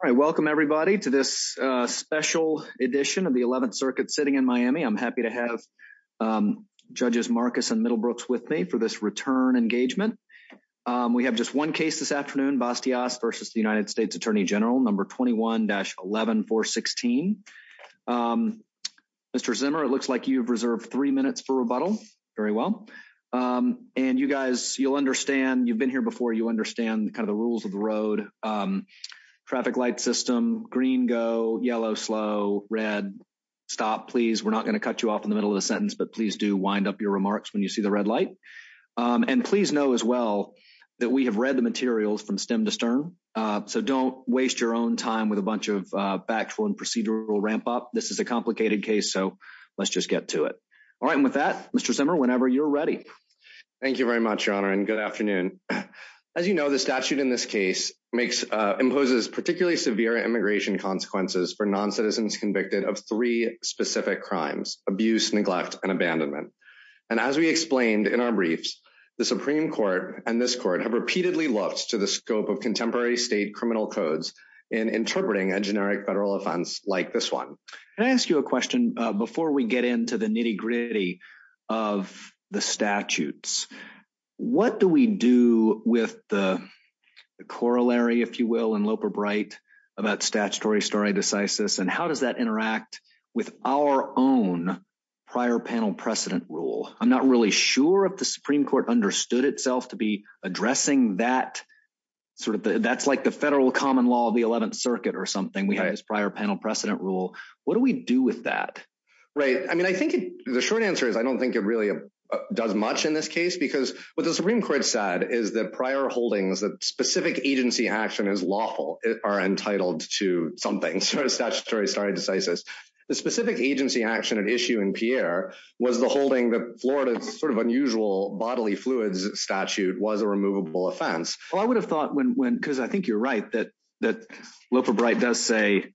All right, welcome everybody to this special edition of the 11th circuit sitting in Miami. I'm happy to have judges Marcus and Middlebrooks with me for this return engagement. We have just one case this afternoon, Bastias v. U.S. Attorney General, number 21-11416. Mr. Zimmer, it looks like you've reserved three minutes for rebuttal, very well. And you guys, you'll understand, you've been here before, you understand kind of the rules of the road. Traffic light system, green go, yellow slow, red stop, please. We're not going to cut you off in the middle of the sentence, but please do wind up your remarks when you see the red light. And please know as well that we have read the materials from stem to stern, so don't waste your own time with a bunch of factual and procedural ramp up. This is a complicated case, so let's just get to it. All right, and with that, Mr. Zimmer, whenever you're ready. Thank you very much, Your Honor, and good afternoon. As you know, the statute in this case imposes particularly severe immigration consequences for non-citizens convicted of three specific crimes, abuse, neglect, and abandonment. And as we explained in our briefs, the Supreme Court and this court have repeatedly looked to the scope of contemporary state criminal codes in interpreting a generic federal offense like this one. Can I ask you a question before we get into the nitty gritty of the statutes? What do we do with the corollary, if you will, in Loper Bright about statutory stare decisis, and how does that interact with our own prior panel precedent rule? I'm not really sure if the Supreme Court understood itself to be addressing that. That's like the federal common law of the 11th circuit or something. We have this prior precedent rule. What do we do with that? Right, I mean, I think the short answer is I don't think it really does much in this case because what the Supreme Court said is that prior holdings, that specific agency action is lawful, are entitled to something, sort of statutory stare decisis. The specific agency action at issue in Pierre was the holding that Florida's sort of unusual bodily fluids statute was a removable offense. Well, I would have thought when, because I think you're right, that Loper Bright does say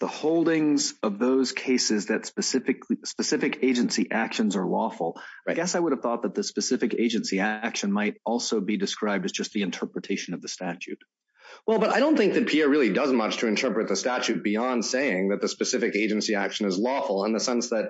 the holdings of those cases that specific agency actions are lawful. I guess I would have thought that the specific agency action might also be described as just the interpretation of the statute. Well, but I don't think that Pierre really does much to interpret the statute beyond saying that the specific agency action is lawful in the sense that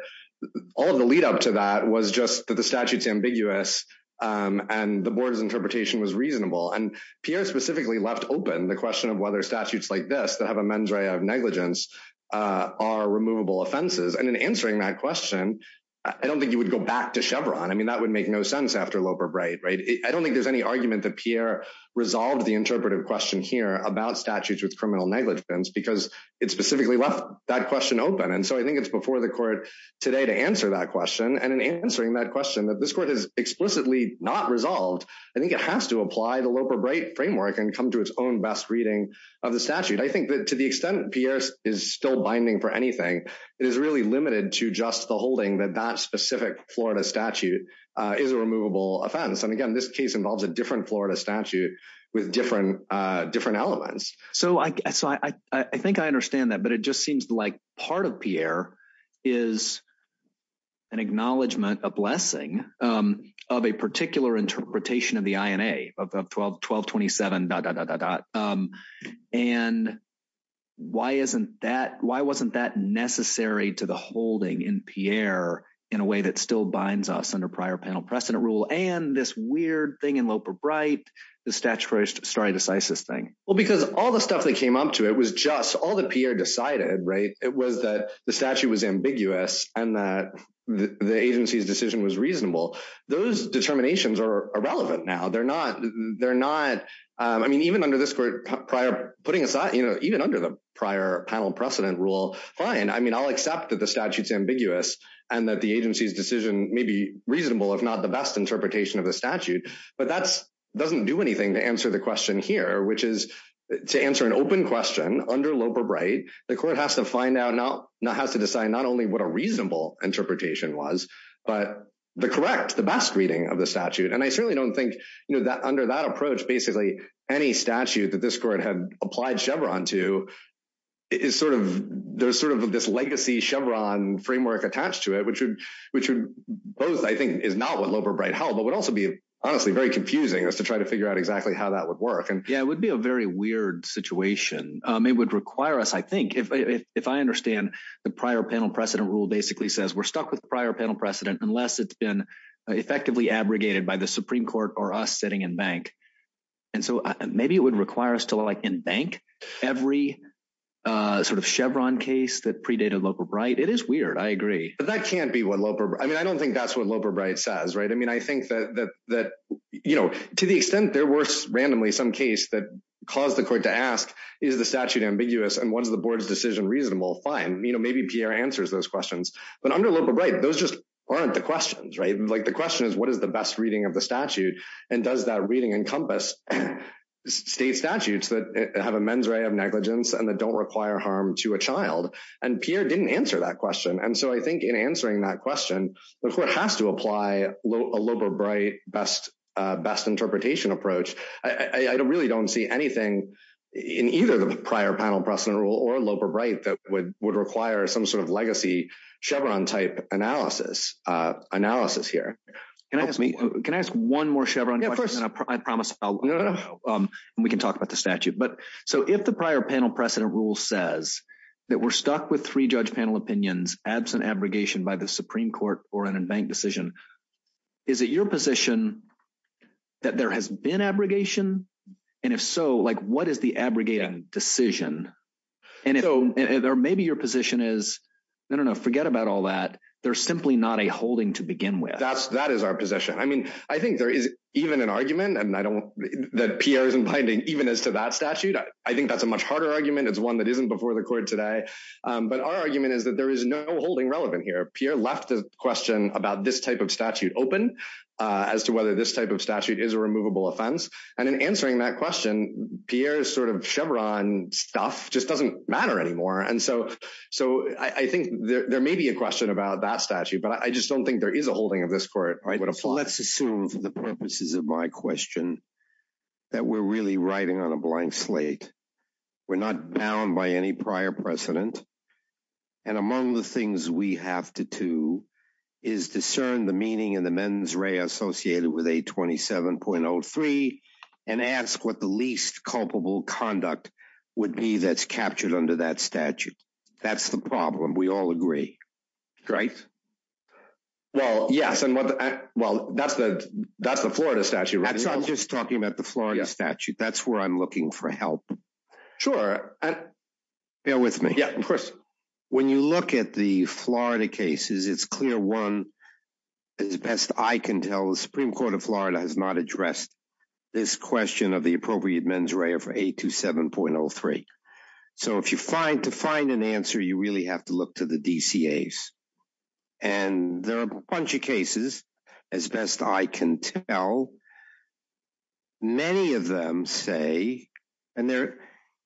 all of the lead up to that was just that the statute's ambiguous and the board's interpretation was reasonable. And Pierre specifically left open the question of whether statutes like this that have a mens rea of negligence are removable offenses. And in answering that question, I don't think you would go back to Chevron. I mean, that would make no sense after Loper Bright, right? I don't think there's any argument that Pierre resolved the interpretive question here about statutes with criminal negligence because it specifically left that question open. And so I think it's before the court today to answer that question. And in answering that question that this court has explicitly not resolved, I think it has to apply the Loper Bright framework and come to its own best reading of the statute. I think that to the extent Pierre is still binding for anything, it is really limited to just the holding that that specific Florida statute is a removable offense. And again, this case involves a different Florida statute with different elements. So I think I understand that, but it just seems like part of Pierre is an acknowledgment, a blessing of a particular interpretation of the INA of 1227 dot, dot, dot, dot, dot. And why isn't that, why wasn't that necessary to the holding in Pierre in a way that still binds us under prior panel precedent rule and this weird thing in Loper Bright, the statutory stare decisis thing? Well, because all the stuff that came up to it was just all Pierre decided, right? It was that the statute was ambiguous and that the agency's decision was reasonable. Those determinations are irrelevant now. They're not, they're not, I mean, even under this court prior putting aside, you know, even under the prior panel precedent rule, fine. I mean, I'll accept that the statute's ambiguous and that the agency's decision may be reasonable, if not the best interpretation of the statute, but that's doesn't do anything to answer the here, which is to answer an open question under Loper Bright, the court has to find out now, not has to decide not only what a reasonable interpretation was, but the correct, the best reading of the statute. And I certainly don't think, you know, that under that approach, basically any statute that this court had applied Chevron to is sort of, there's sort of this legacy Chevron framework attached to it, which would, which would both, I think is not what Loper Bright held, but would also be honestly very confusing as to try to figure out exactly how that would work. And yeah, it would be a very weird situation. It would require us. I think if, if I understand the prior panel precedent rule basically says we're stuck with the prior panel precedent, unless it's been effectively abrogated by the Supreme court or us sitting in bank. And so maybe it would require us to like in bank every sort of Chevron case that predated Loper Bright. It is weird. I agree. But that can't be what Loper, I mean, I don't think that's what says, right. I mean, I think that, that, that, you know, to the extent there were randomly some case that caused the court to ask, is the statute ambiguous? And what does the board's decision reasonable? Fine. You know, maybe Pierre answers those questions, but under Loper Bright, those just aren't the questions, right? Like the question is what is the best reading of the statute? And does that reading encompass state statutes that have a mens rea of negligence and that don't require harm to a child? And Pierre didn't answer that question. And so I think in answering that question, the court has to apply a Loper Bright best, uh, best interpretation approach. I don't really don't see anything in either the prior panel precedent rule or Loper Bright that would, would require some sort of legacy Chevron type analysis, uh, analysis here. Can I ask me, can I ask one more Chevron? I promise we can talk about the statute, but so if the prior panel precedent rule says that we're stuck with three judge panel opinions, absent abrogation by the Supreme court or an unbanked decision, is it your position that there has been abrogation? And if so, like what is the abrogated decision? And if so, there may be your position is, I don't know, forget about all that. They're simply not a holding to begin with. That's, that is our position. I mean, I think there is even an argument and I don't, that Pierre isn't binding even as to that statute. I think that's a much harder argument. It's one that isn't before the court today. Um, but our argument is that there is no holding relevant here. Pierre left the question about this type of statute open, uh, as to whether this type of statute is a removable offense. And in answering that question, Pierre is sort of Chevron stuff just doesn't matter anymore. And so, so I think there may be a question about that statute, but I just don't think there is a holding of this court. Right. So let's assume for the purposes of my question that we're really writing on a blank slate. We're not bound by any prior precedent. And among the things we have to do is discern the meaning and the mens rea associated with a 27.03 and ask what the least culpable conduct would be that's captured under that statute. That's the problem. We all agree, right? Well, yes. And what, well, that's the, that's the Florida statute. I'm just talking about the Florida statute. That's where I'm looking for help. Sure. Bear with me. Yeah, of course. When you look at the Florida cases, it's clear. One is best. I can tell the Supreme court of Florida has not addressed this question of the appropriate mens rea for eight to 7.03. So if you find to find an answer, you really have to look to the DCAs. And there are a bunch of cases as best I can tell. Many of them say, and they're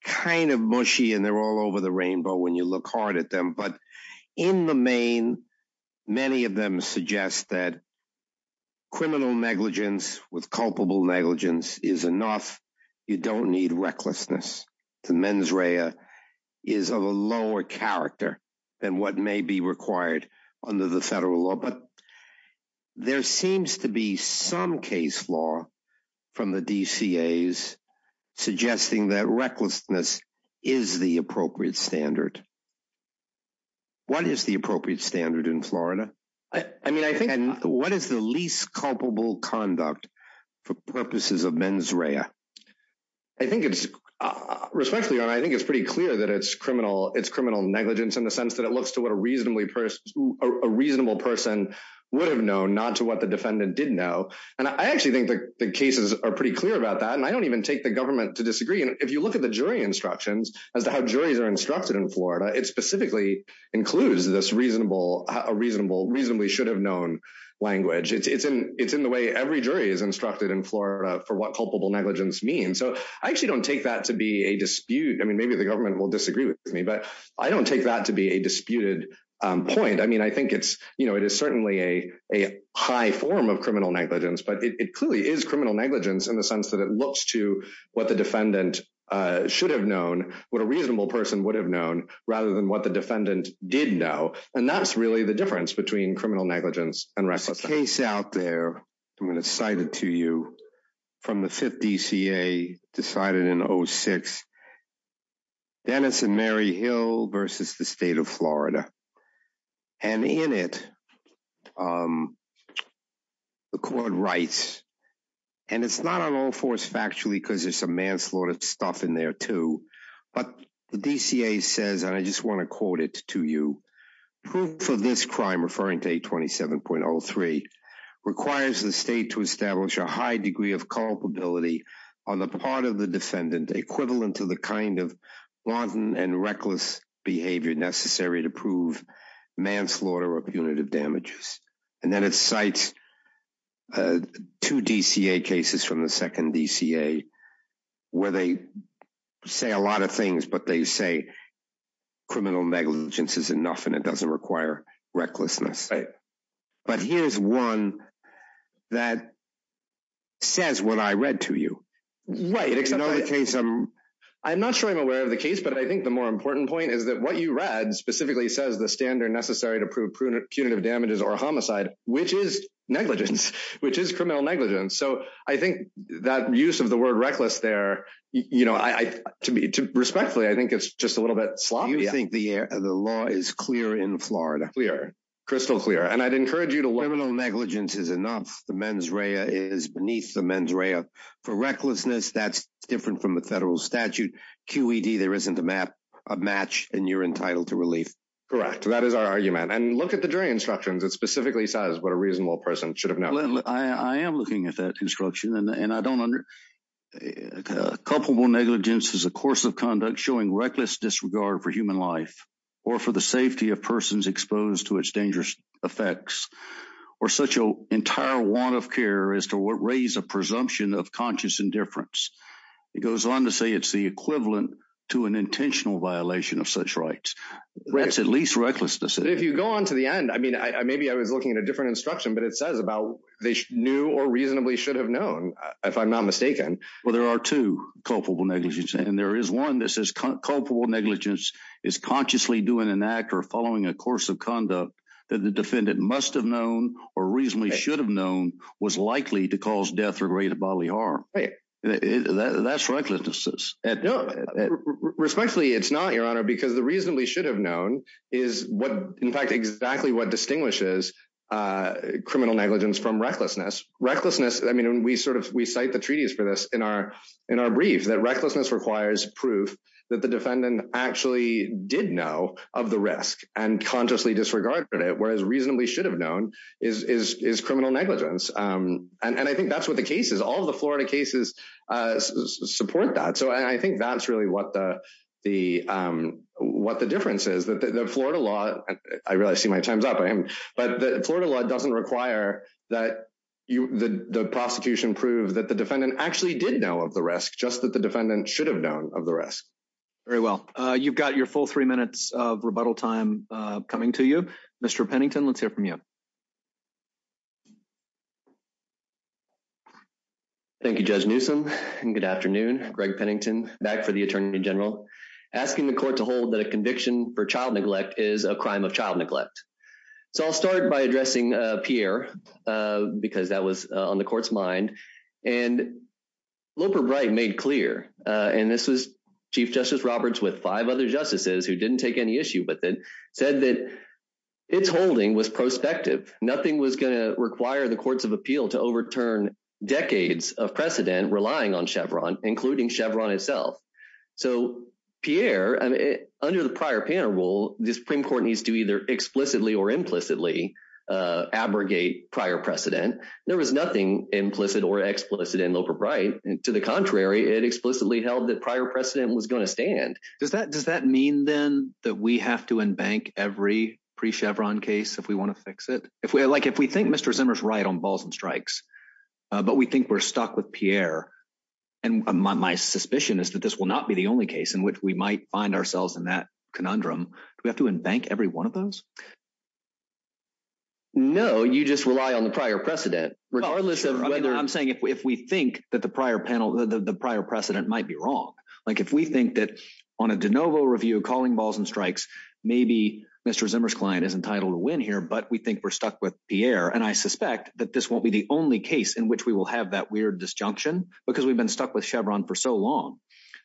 kind of mushy and they're all over the rainbow when you look hard at them, but in the main, many of them suggest that criminal negligence with culpable negligence is enough. You don't need recklessness. The mens rea is of a lower character than what may be required under the federal law. But there seems to be some case law from the DCAs suggesting that recklessness is the appropriate standard. What is the appropriate standard in Florida? I mean, I think what is the least culpable conduct for purposes of mens rea? I think it's respectfully, and I think it's pretty clear that it's criminal negligence in the sense that it looks to what a reasonable person would have known, not to what the defendant did know. And I actually think the cases are pretty clear about that. And I don't even take the government to disagree. And if you look at the jury instructions as to how juries are instructed in Florida, it specifically includes a reasonably should have known language. It's in the way every jury is instructed in Florida for what culpable negligence means. So I actually don't take that to be a dispute. I mean, maybe the government will disagree with me, but I don't take that to be a disputed point. I mean, I think it is certainly a high form of criminal negligence, but it clearly is criminal negligence in the sense that it looks to what the defendant should have known, what a reasonable person would have known, rather than what the defendant did know. And that's really the difference between criminal negligence and recidivism. There's a case out there, I'm going to cite it to you, from the fifth DCA decided in 06, Dennis and Mary Hill versus the state of Florida. And in it, the court writes, and it's not on all fours factually, because there's some manslaughter stuff in there too. But the DCA says, and I just want to quote it to you, proof for this crime, referring to 827.03, requires the state to establish a high degree of culpability on the part of the defendant, equivalent to the kind of blunt and reckless behavior necessary to prove manslaughter or punitive damages. And then it cites two DCA cases from the second DCA, where they say a lot of things, but they say criminal negligence is enough and it doesn't require recklessness. But here's one that says what I read to you. I'm not sure I'm aware of the case, but I think the more important point is that what you read specifically says the standard necessary to prove punitive damages or homicide, which is negligence, which is criminal negligence. So I think that use of the word reckless there, respectfully, I think it's just a little bit sloppy. You think the law is clear in Florida? Clear, crystal clear. And I'd encourage you to- Criminal negligence is enough. The mens rea is beneath the mens rea. For recklessness, that's different from the federal statute. QED, there isn't a match and you're entitled to relief. Correct. That is our argument. And look at the jury instructions. It specifically says what a reasonable person should have known. I am looking at that instruction and I don't under- Culpable negligence is a course of conduct showing reckless disregard for human life or for the safety of persons exposed to its dangerous effects or such an entire want of care as to what raise a presumption of conscious indifference. It goes on to say it's the equivalent to an intentional violation of such rights. That's at least recklessness. If you go on to the end, I mean, maybe I was looking at a different instruction, but it says about they knew or reasonably should have known if I'm not mistaken. Well, there are two culpable negligence and there is one that says culpable negligence is consciously doing an act or following a course of conduct that the defendant must have known or reasonably should have known was likely to cause death or great bodily harm. That's right. Respectfully, it's not, Your Honor, because the reasonably should have known is what, in fact, exactly what distinguishes criminal negligence from recklessness. Recklessness. I mean, we sort of we cite the treaties for this in our in our brief that recklessness requires proof that the defendant actually did know of the risk and consciously disregarded it, whereas reasonably should have known is is is criminal negligence. And I think that's what the case is. All the Florida cases support that. So I think that's really what the the what the difference is that the Florida law. I really see my time's up, but the Florida law doesn't require that the prosecution prove that the defendant actually did know of the risk, just that the defendant should have known of the risk very well. You've got your full three minutes of rebuttal time coming to you, Mr. Pennington. Let's hear from you. Thank you, Judge Newsome. And good afternoon. Greg Pennington, back for the attorney general, asking the court to hold that a conviction for child neglect is a crime of child neglect. So I'll start by addressing Pierre, because that was on the court's mind. And Loper Bright made clear, and this was Chief Justice Roberts with five other justices who didn't take any issue with it, said that it's holding was prospective. Nothing was going to appeal to overturn decades of precedent relying on Chevron, including Chevron itself. So, Pierre, under the prior panel rule, the Supreme Court needs to either explicitly or implicitly abrogate prior precedent. There was nothing implicit or explicit in Loper Bright. To the contrary, it explicitly held that prior precedent was going to stand. Does that does that mean then that we have to embank every pre Chevron case if we want to fix it? If we like, if we think Mr. Zimmer's right on balls and strikes, but we think we're stuck with Pierre. And my suspicion is that this will not be the only case in which we might find ourselves in that conundrum. We have to embank every one of those. No, you just rely on the prior precedent, regardless of whether I'm saying if we think that the prior panel, the prior precedent might be wrong. Like if we think that on a de novo review calling balls and strikes, maybe Mr. Zimmer's client is entitled to win here, but we think we're stuck with Pierre. And I suspect that this won't be the only case in which we will have that weird disjunction because we've been stuck with Chevron for so long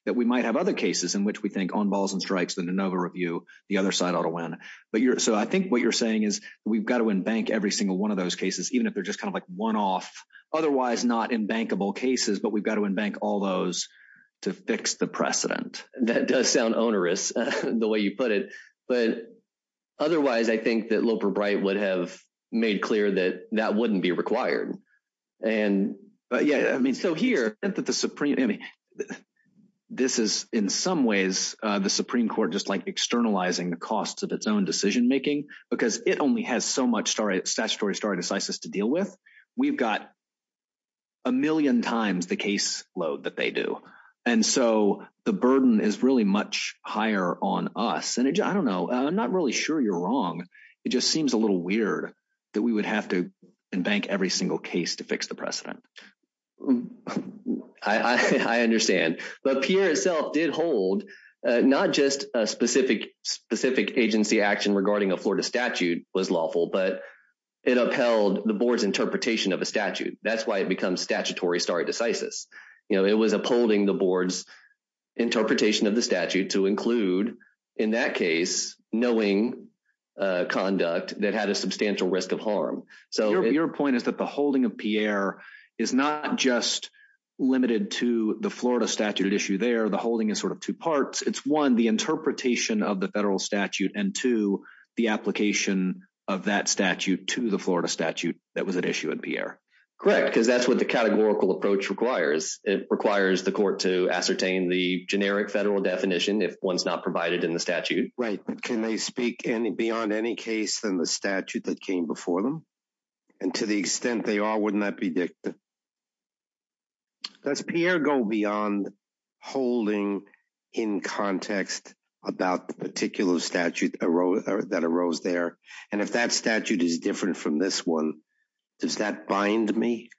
that we might have other cases in which we think on balls and strikes, the de novo review, the other side ought to win. But so I think what you're saying is we've got to embank every single one of those cases, even if they're just kind of like one off, otherwise not in bankable cases. But we've got to embank all those to fix the precedent. That does sound onerous, the way you put it. But otherwise, I think that Loper Bright would have made clear that that wouldn't be required. And yeah, I mean, so here, I think that the Supreme, I mean, this is in some ways, the Supreme Court just like externalizing the costs of its own decision making, because it only has so much statutory stare decisis to deal with. We've got a million times the caseload that they do. And so the burden is really much higher on us. And I don't know, I'm not really sure you're wrong. It just seems a little weird that we would have to embank every single case to fix the precedent. I understand. But Pierre itself did hold not just a specific agency action regarding a Florida statute. That's why it becomes statutory stare decisis. It was upholding the board's interpretation of the statute to include, in that case, knowing conduct that had a substantial risk of harm. Your point is that the holding of Pierre is not just limited to the Florida statute at issue there. The holding is sort of two parts. It's one, the interpretation of the federal statute, and two, the application of that statute to the Florida statute that was at issue in Pierre. Correct, because that's what the categorical approach requires. It requires the court to ascertain the generic federal definition if one's not provided in the statute. Right. But can they speak beyond any case than the statute that came before them? And to the extent they are, wouldn't that be dictative? Does Pierre go beyond holding in context about the particular statute that arose there? And if that statute is different from this one, does that bind me?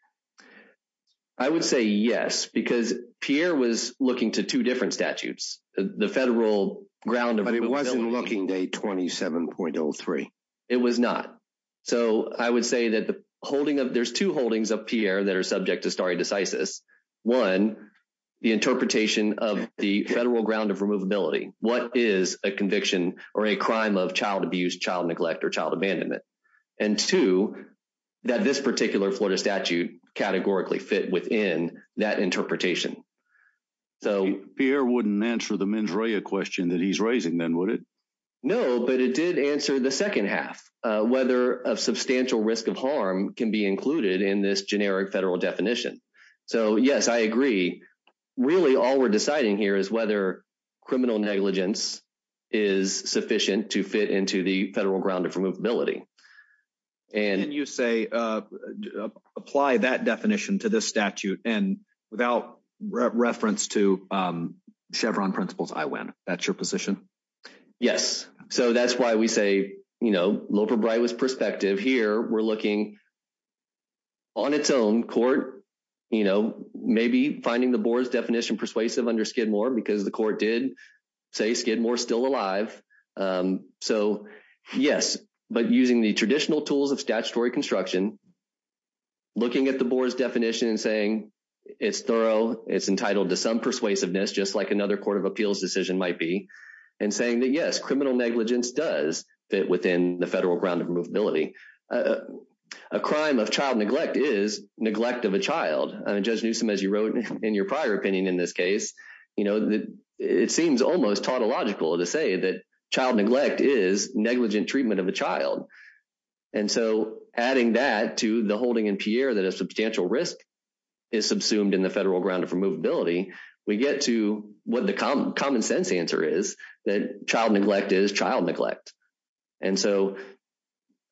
I would say yes, because Pierre was looking to two different statutes, the federal ground of... But it wasn't looking to 827.03. It was not. So I would say that there's two holdings of Pierre that are subject to stare decisis. One, the interpretation of the federal ground of removability. What is a conviction or a crime of child abuse, child neglect, or child abandonment? And two, that this particular Florida statute categorically fit within that interpretation. Pierre wouldn't answer the mens rea question that he's raising then, would it? No, but it did answer the second half, whether a substantial risk of harm can be included in this generic federal definition. So yes, I agree. Really all we're deciding here is whether criminal negligence is sufficient to fit into the federal ground of removability. And you say, apply that definition to this statute and without reference to Chevron principles, I win. That's your position? Yes. So that's why we say, Loper Bright was perspective. Here we're looking on its own court, maybe finding the board's definition persuasive under Skidmore, because the court did say Skidmore is still alive. So yes, but using the traditional tools of statutory construction, looking at the board's definition and saying, it's thorough, it's entitled to some persuasiveness, just like another court of appeals decision might be. And saying that yes, criminal negligence does fit within the federal ground of removability. A crime of child neglect is neglect of a child. Judge Newsom, as you wrote in your prior opinion in this case, it seems almost tautological to say that child neglect is negligent treatment of a child. And so adding that to the holding in Pierre that a substantial risk is subsumed in the federal ground of removability, we get to what the common sense answer is, that child neglect is child neglect. And so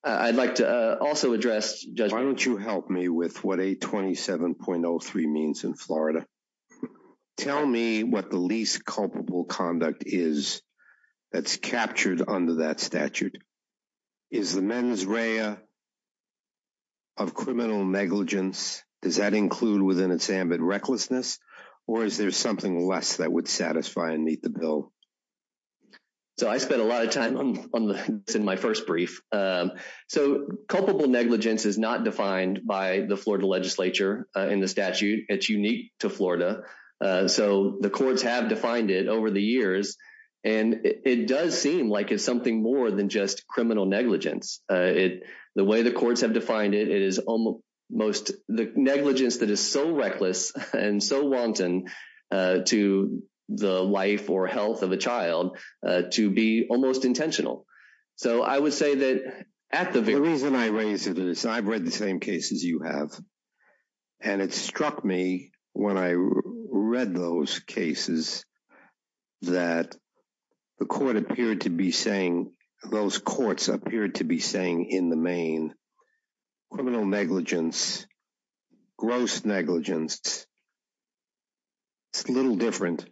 I'd like to also address... Why don't you help me with what 827.03 means in Florida? Tell me what the least culpable conduct is that's captured under that statute? Is the mens rea of criminal negligence? Does that include within its ambit recklessness, or is there something less that would satisfy and meet the bill? So I spent a lot of time on this in my first brief. So culpable negligence is not defined by the Florida legislature in the statute. It's unique to Florida. So the courts have defined it over the years. And it does seem like it's something more than just criminal negligence. The way the courts have defined it, the negligence that is so reckless and so wanton to the life or health of a child to be almost intentional. So I would say that at the very... The reason I raised it is I've read the same cases you have, and it struck me when I read those cases that the court appeared to be saying... Those courts appeared to be saying in the main criminal negligence, gross negligence, it's a little different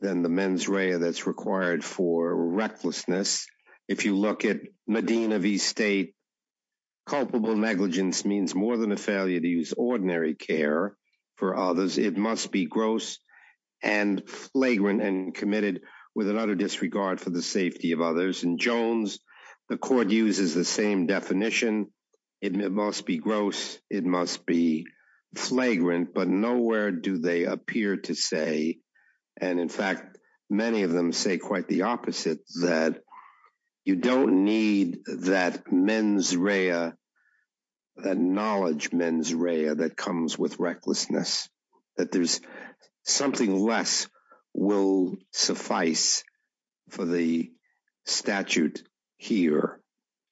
than the mens rea that's required for recklessness. If you look at Medina v. State, culpable negligence means more than a failure to ordinary care for others. It must be gross and flagrant and committed with an utter disregard for the safety of others. And Jones, the court uses the same definition. It must be gross, it must be flagrant, but nowhere do they appear to say... And in fact, many of them say quite the opposite, that you don't need that mens rea, that knowledge mens rea that comes with recklessness, that there's something less will suffice for the statute here.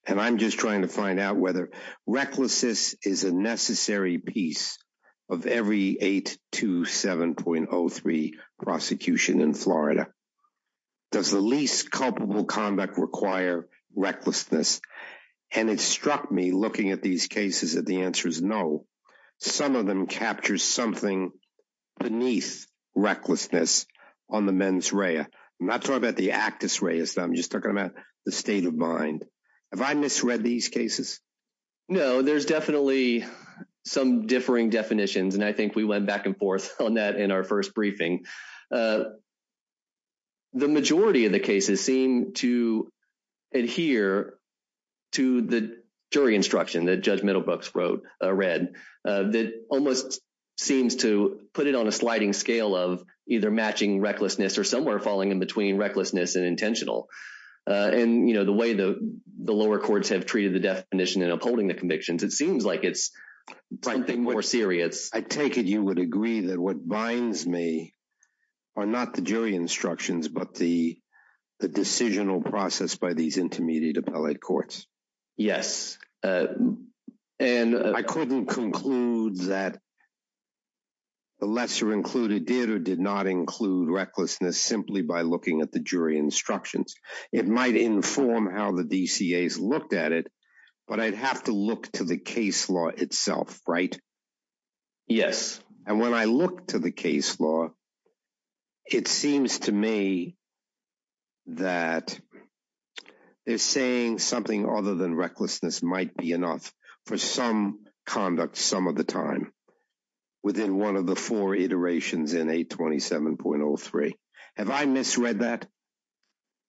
And I'm just trying to find out whether recklessness is a necessary piece of every 827.03 prosecution in Florida. Does the least culpable conduct require recklessness? And it struck me looking at these cases that the answer is no. Some of them capture something beneath recklessness on the mens rea. I'm not talking about the actus rea, I'm just talking about the state of mind. Have I misread these cases? No, there's definitely some differing definitions. And I think we went back and forth on that in our first briefing. The majority of the cases seem to adhere to the jury instruction that Judge Middlebrooks read, that almost seems to put it on a sliding scale of either matching recklessness or somewhere falling in between recklessness and intentional. And the way the lower courts have treated the definition and upholding the convictions, it seems like it's something more serious. I take it you would agree that what binds me are not the jury instructions, but the decisional process by these intermediate appellate courts? Yes. And I couldn't conclude that the lesser included did or did not include recklessness simply by looking at the jury instructions. It might inform how the DCAs looked at it, but I'd have to look to the case law itself, right? Yes. And when I look to the case law, it seems to me that they're saying something other than recklessness might be enough for some conduct some of the time within one of the four iterations in 827.03. Have I misread that?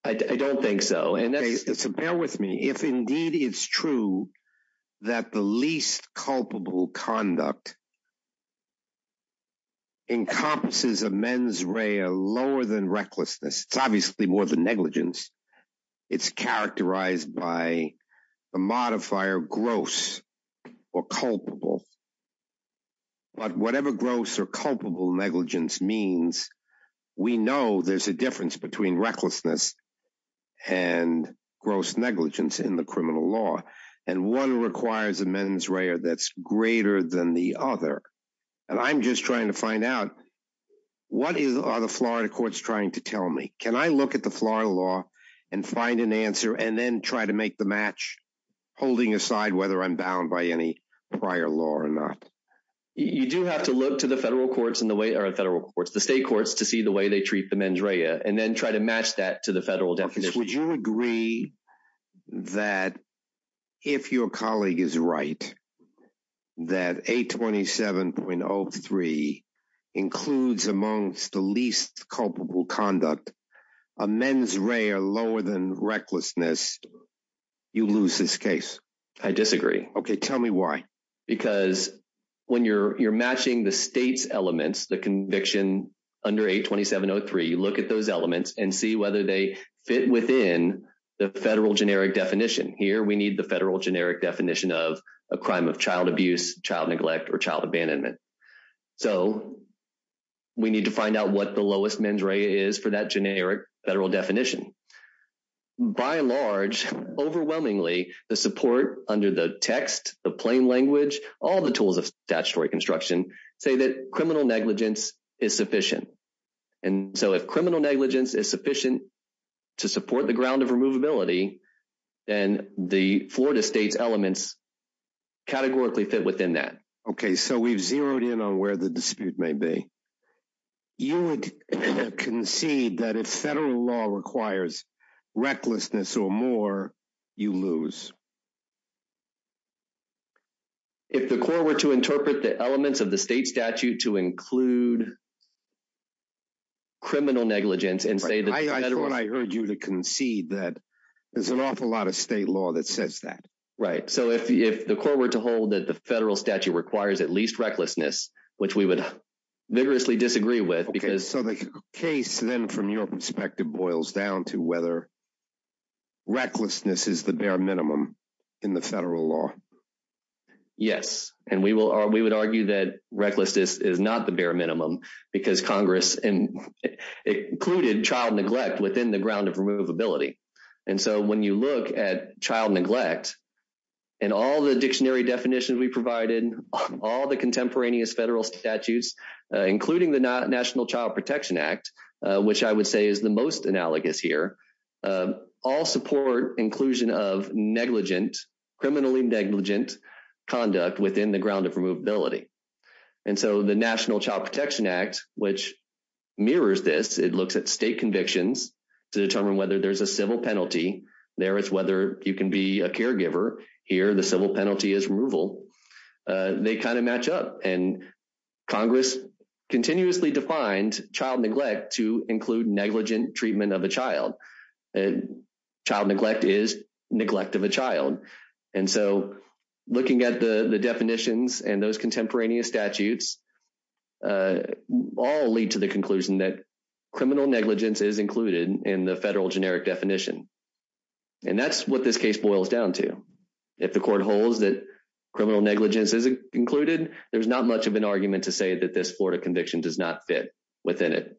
I don't think so. Bear with me. If indeed it's true that the least culpable conduct encompasses a mens rea lower than recklessness, it's obviously more than negligence. It's characterized by the modifier gross or culpable. But whatever gross or culpable negligence means, we know there's a difference between recklessness and gross negligence in the criminal law. And one requires a mens rea that's greater than the other. And I'm just trying to find out what are the Florida courts trying to tell me? Can I look at the Florida law and find an answer and then try to make the match holding aside whether I'm bound by any prior law or not? You do have to look to the federal courts and the state courts to see the way they treat the mens rea and then try to match that to the federal definition. Would you agree that if your colleague is right, that 827.03 includes amongst the least culpable conduct a mens rea lower than recklessness, you lose this case? I disagree. Okay, tell me why. Because when you're you're matching the state's elements, the conviction under 827.03, you look at those elements and see whether they fit within the federal generic definition. Here we need the federal generic definition of a crime of child abuse, child neglect, or child abandonment. So we need to by large, overwhelmingly, the support under the text, the plain language, all the tools of statutory construction say that criminal negligence is sufficient. And so if criminal negligence is sufficient to support the ground of removability, then the Florida state's elements categorically fit within that. Okay, so we've zeroed in on where the dispute may be. You would concede that if federal law requires recklessness or more, you lose? If the court were to interpret the elements of the state statute to include criminal negligence and say that... I thought I heard you to concede that there's an awful lot of state law that says that. Right. So if the court were to hold that the federal Okay, so the case then from your perspective boils down to whether recklessness is the bare minimum in the federal law. Yes. And we would argue that recklessness is not the bare minimum because Congress included child neglect within the ground of removability. And so when you look at child neglect and all the dictionary definitions we provided, all the contemporaneous federal statutes, including the National Child Protection Act, which I would say is the most analogous here, all support inclusion of negligent, criminally negligent conduct within the ground of removability. And so the National Child Protection Act, which mirrors this, it looks at state convictions to determine whether there's a civil penalty. There it's whether you can be a caregiver. Here, the civil penalty is removal. They kind of match up. And Congress continuously defined child neglect to include negligent treatment of a child. Child neglect is neglect of a child. And so looking at the definitions and those contemporaneous statutes, all lead to the conclusion that criminal negligence is in the federal generic definition. And that's what this case boils down to. If the court holds that criminal negligence is included, there's not much of an argument to say that this Florida conviction does not fit within it.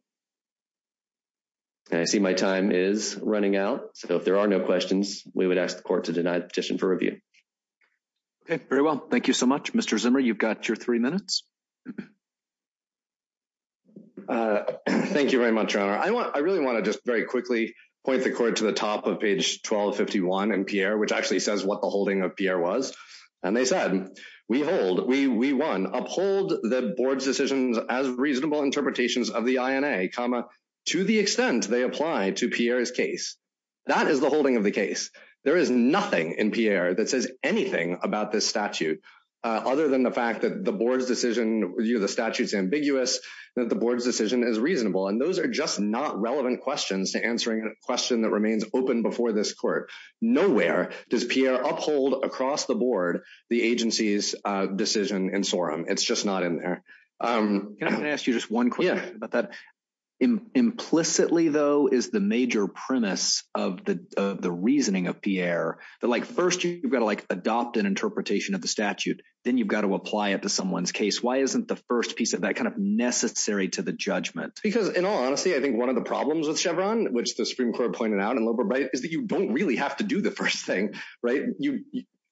And I see my time is running out. So if there are no questions, we would ask the court to deny the petition for review. Okay. Very well. Thank you so much, Mr. Zimmer. You've got your three minutes. Thank you very much, Your Honor. I really want to just very quickly point the court to the top of page 1251 in Pierre, which actually says what the holding of Pierre was. And they said, we hold, we won, uphold the board's decisions as reasonable interpretations of the INA, comma, to the extent they apply to Pierre's case. That is the holding of the case. There is nothing in Pierre that says anything about this statute, other than the fact that the board's decision the statute's ambiguous, that the board's decision is reasonable. And those are just not relevant questions to answering a question that remains open before this court. Nowhere does Pierre uphold across the board, the agency's decision in Sorum. It's just not in there. Can I ask you just one question about that? Implicitly though, is the major premise of the reasoning of Pierre that like, first, you've got to like adopt an interpretation of the statute, then you've got to apply it to someone's case? Why isn't the first piece of that kind of necessary to the judgment? Because in all honesty, I think one of the problems with Chevron, which the Supreme Court pointed out in Loeb or Bright, is that you don't really have to do the first thing, right?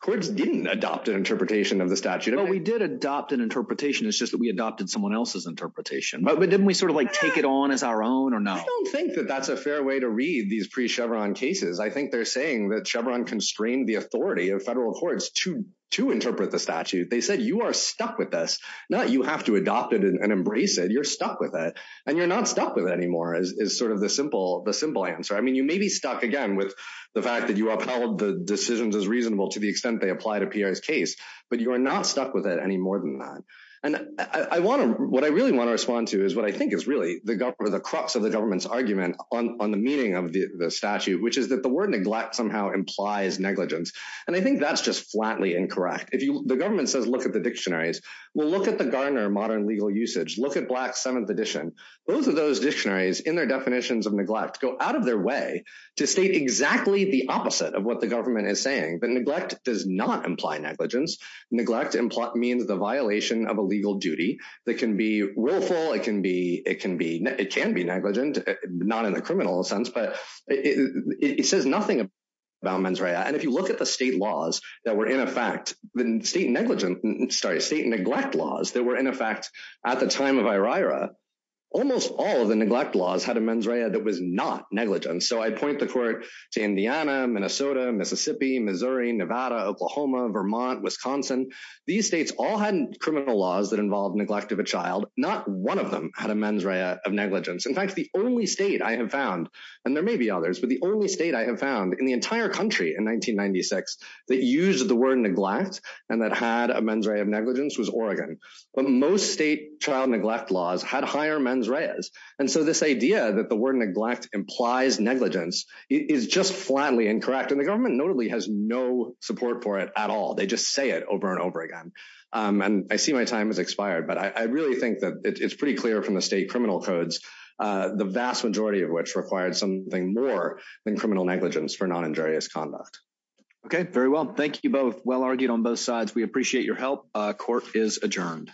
Courts didn't adopt an interpretation of the statute. Well, we did adopt an interpretation. It's just that we adopted someone else's interpretation. But didn't we sort of like take it on as our own or no? I don't think that that's a fair way to read these pre-Chevron cases. I think they're saying that Chevron constrained the authority of federal courts to interpret the statute. They said, you are stuck with this. Now that you have to adopt it and embrace it, you're stuck with it. And you're not stuck with it anymore is sort of the simple answer. I mean, you may be stuck again with the fact that you upheld the decisions as reasonable to the extent they apply to Pierre's case, but you are not stuck with it any more than that. And what I really want to respond to is what I think is really the crux of the government's argument on the meaning of the statute, which is that the word neglect somehow implies negligence. And I think that's just flatly incorrect. The government says, look at the dictionaries. Well, look at the Garner Modern Legal Usage. Look at Black Seventh Edition. Both of those dictionaries in their definitions of neglect go out of their way to state exactly the opposite of what the government is saying. But neglect does not imply negligence. Neglect means the violation of a legal duty that can be willful. It can be negligent, not in the criminal sense, but it says nothing about mens rea. And if you look at the state neglect laws that were in effect at the time of Irira, almost all of the neglect laws had a mens rea that was not negligent. So I point the court to Indiana, Minnesota, Mississippi, Missouri, Nevada, Oklahoma, Vermont, Wisconsin. These states all had criminal laws that involved neglect of a child. Not one of them had a mens rea of negligence. In fact, the only state I have found, and there may be others, but the only state I have found in the entire country in 1996 that used the word neglect and that had a mens rea of negligence was Oregon. But most state child neglect laws had higher mens reas. And so this idea that the word neglect implies negligence is just flatly incorrect. And the government notably has no support for it at all. They just say it over and over again. And I see my time has expired, but I really think that it's pretty clear from the state criminal codes, the vast majority of which required something more than criminal negligence for non injurious conduct. Okay. Very well. Thank you both. Well argued on both sides. We appreciate your help. Court is adjourned.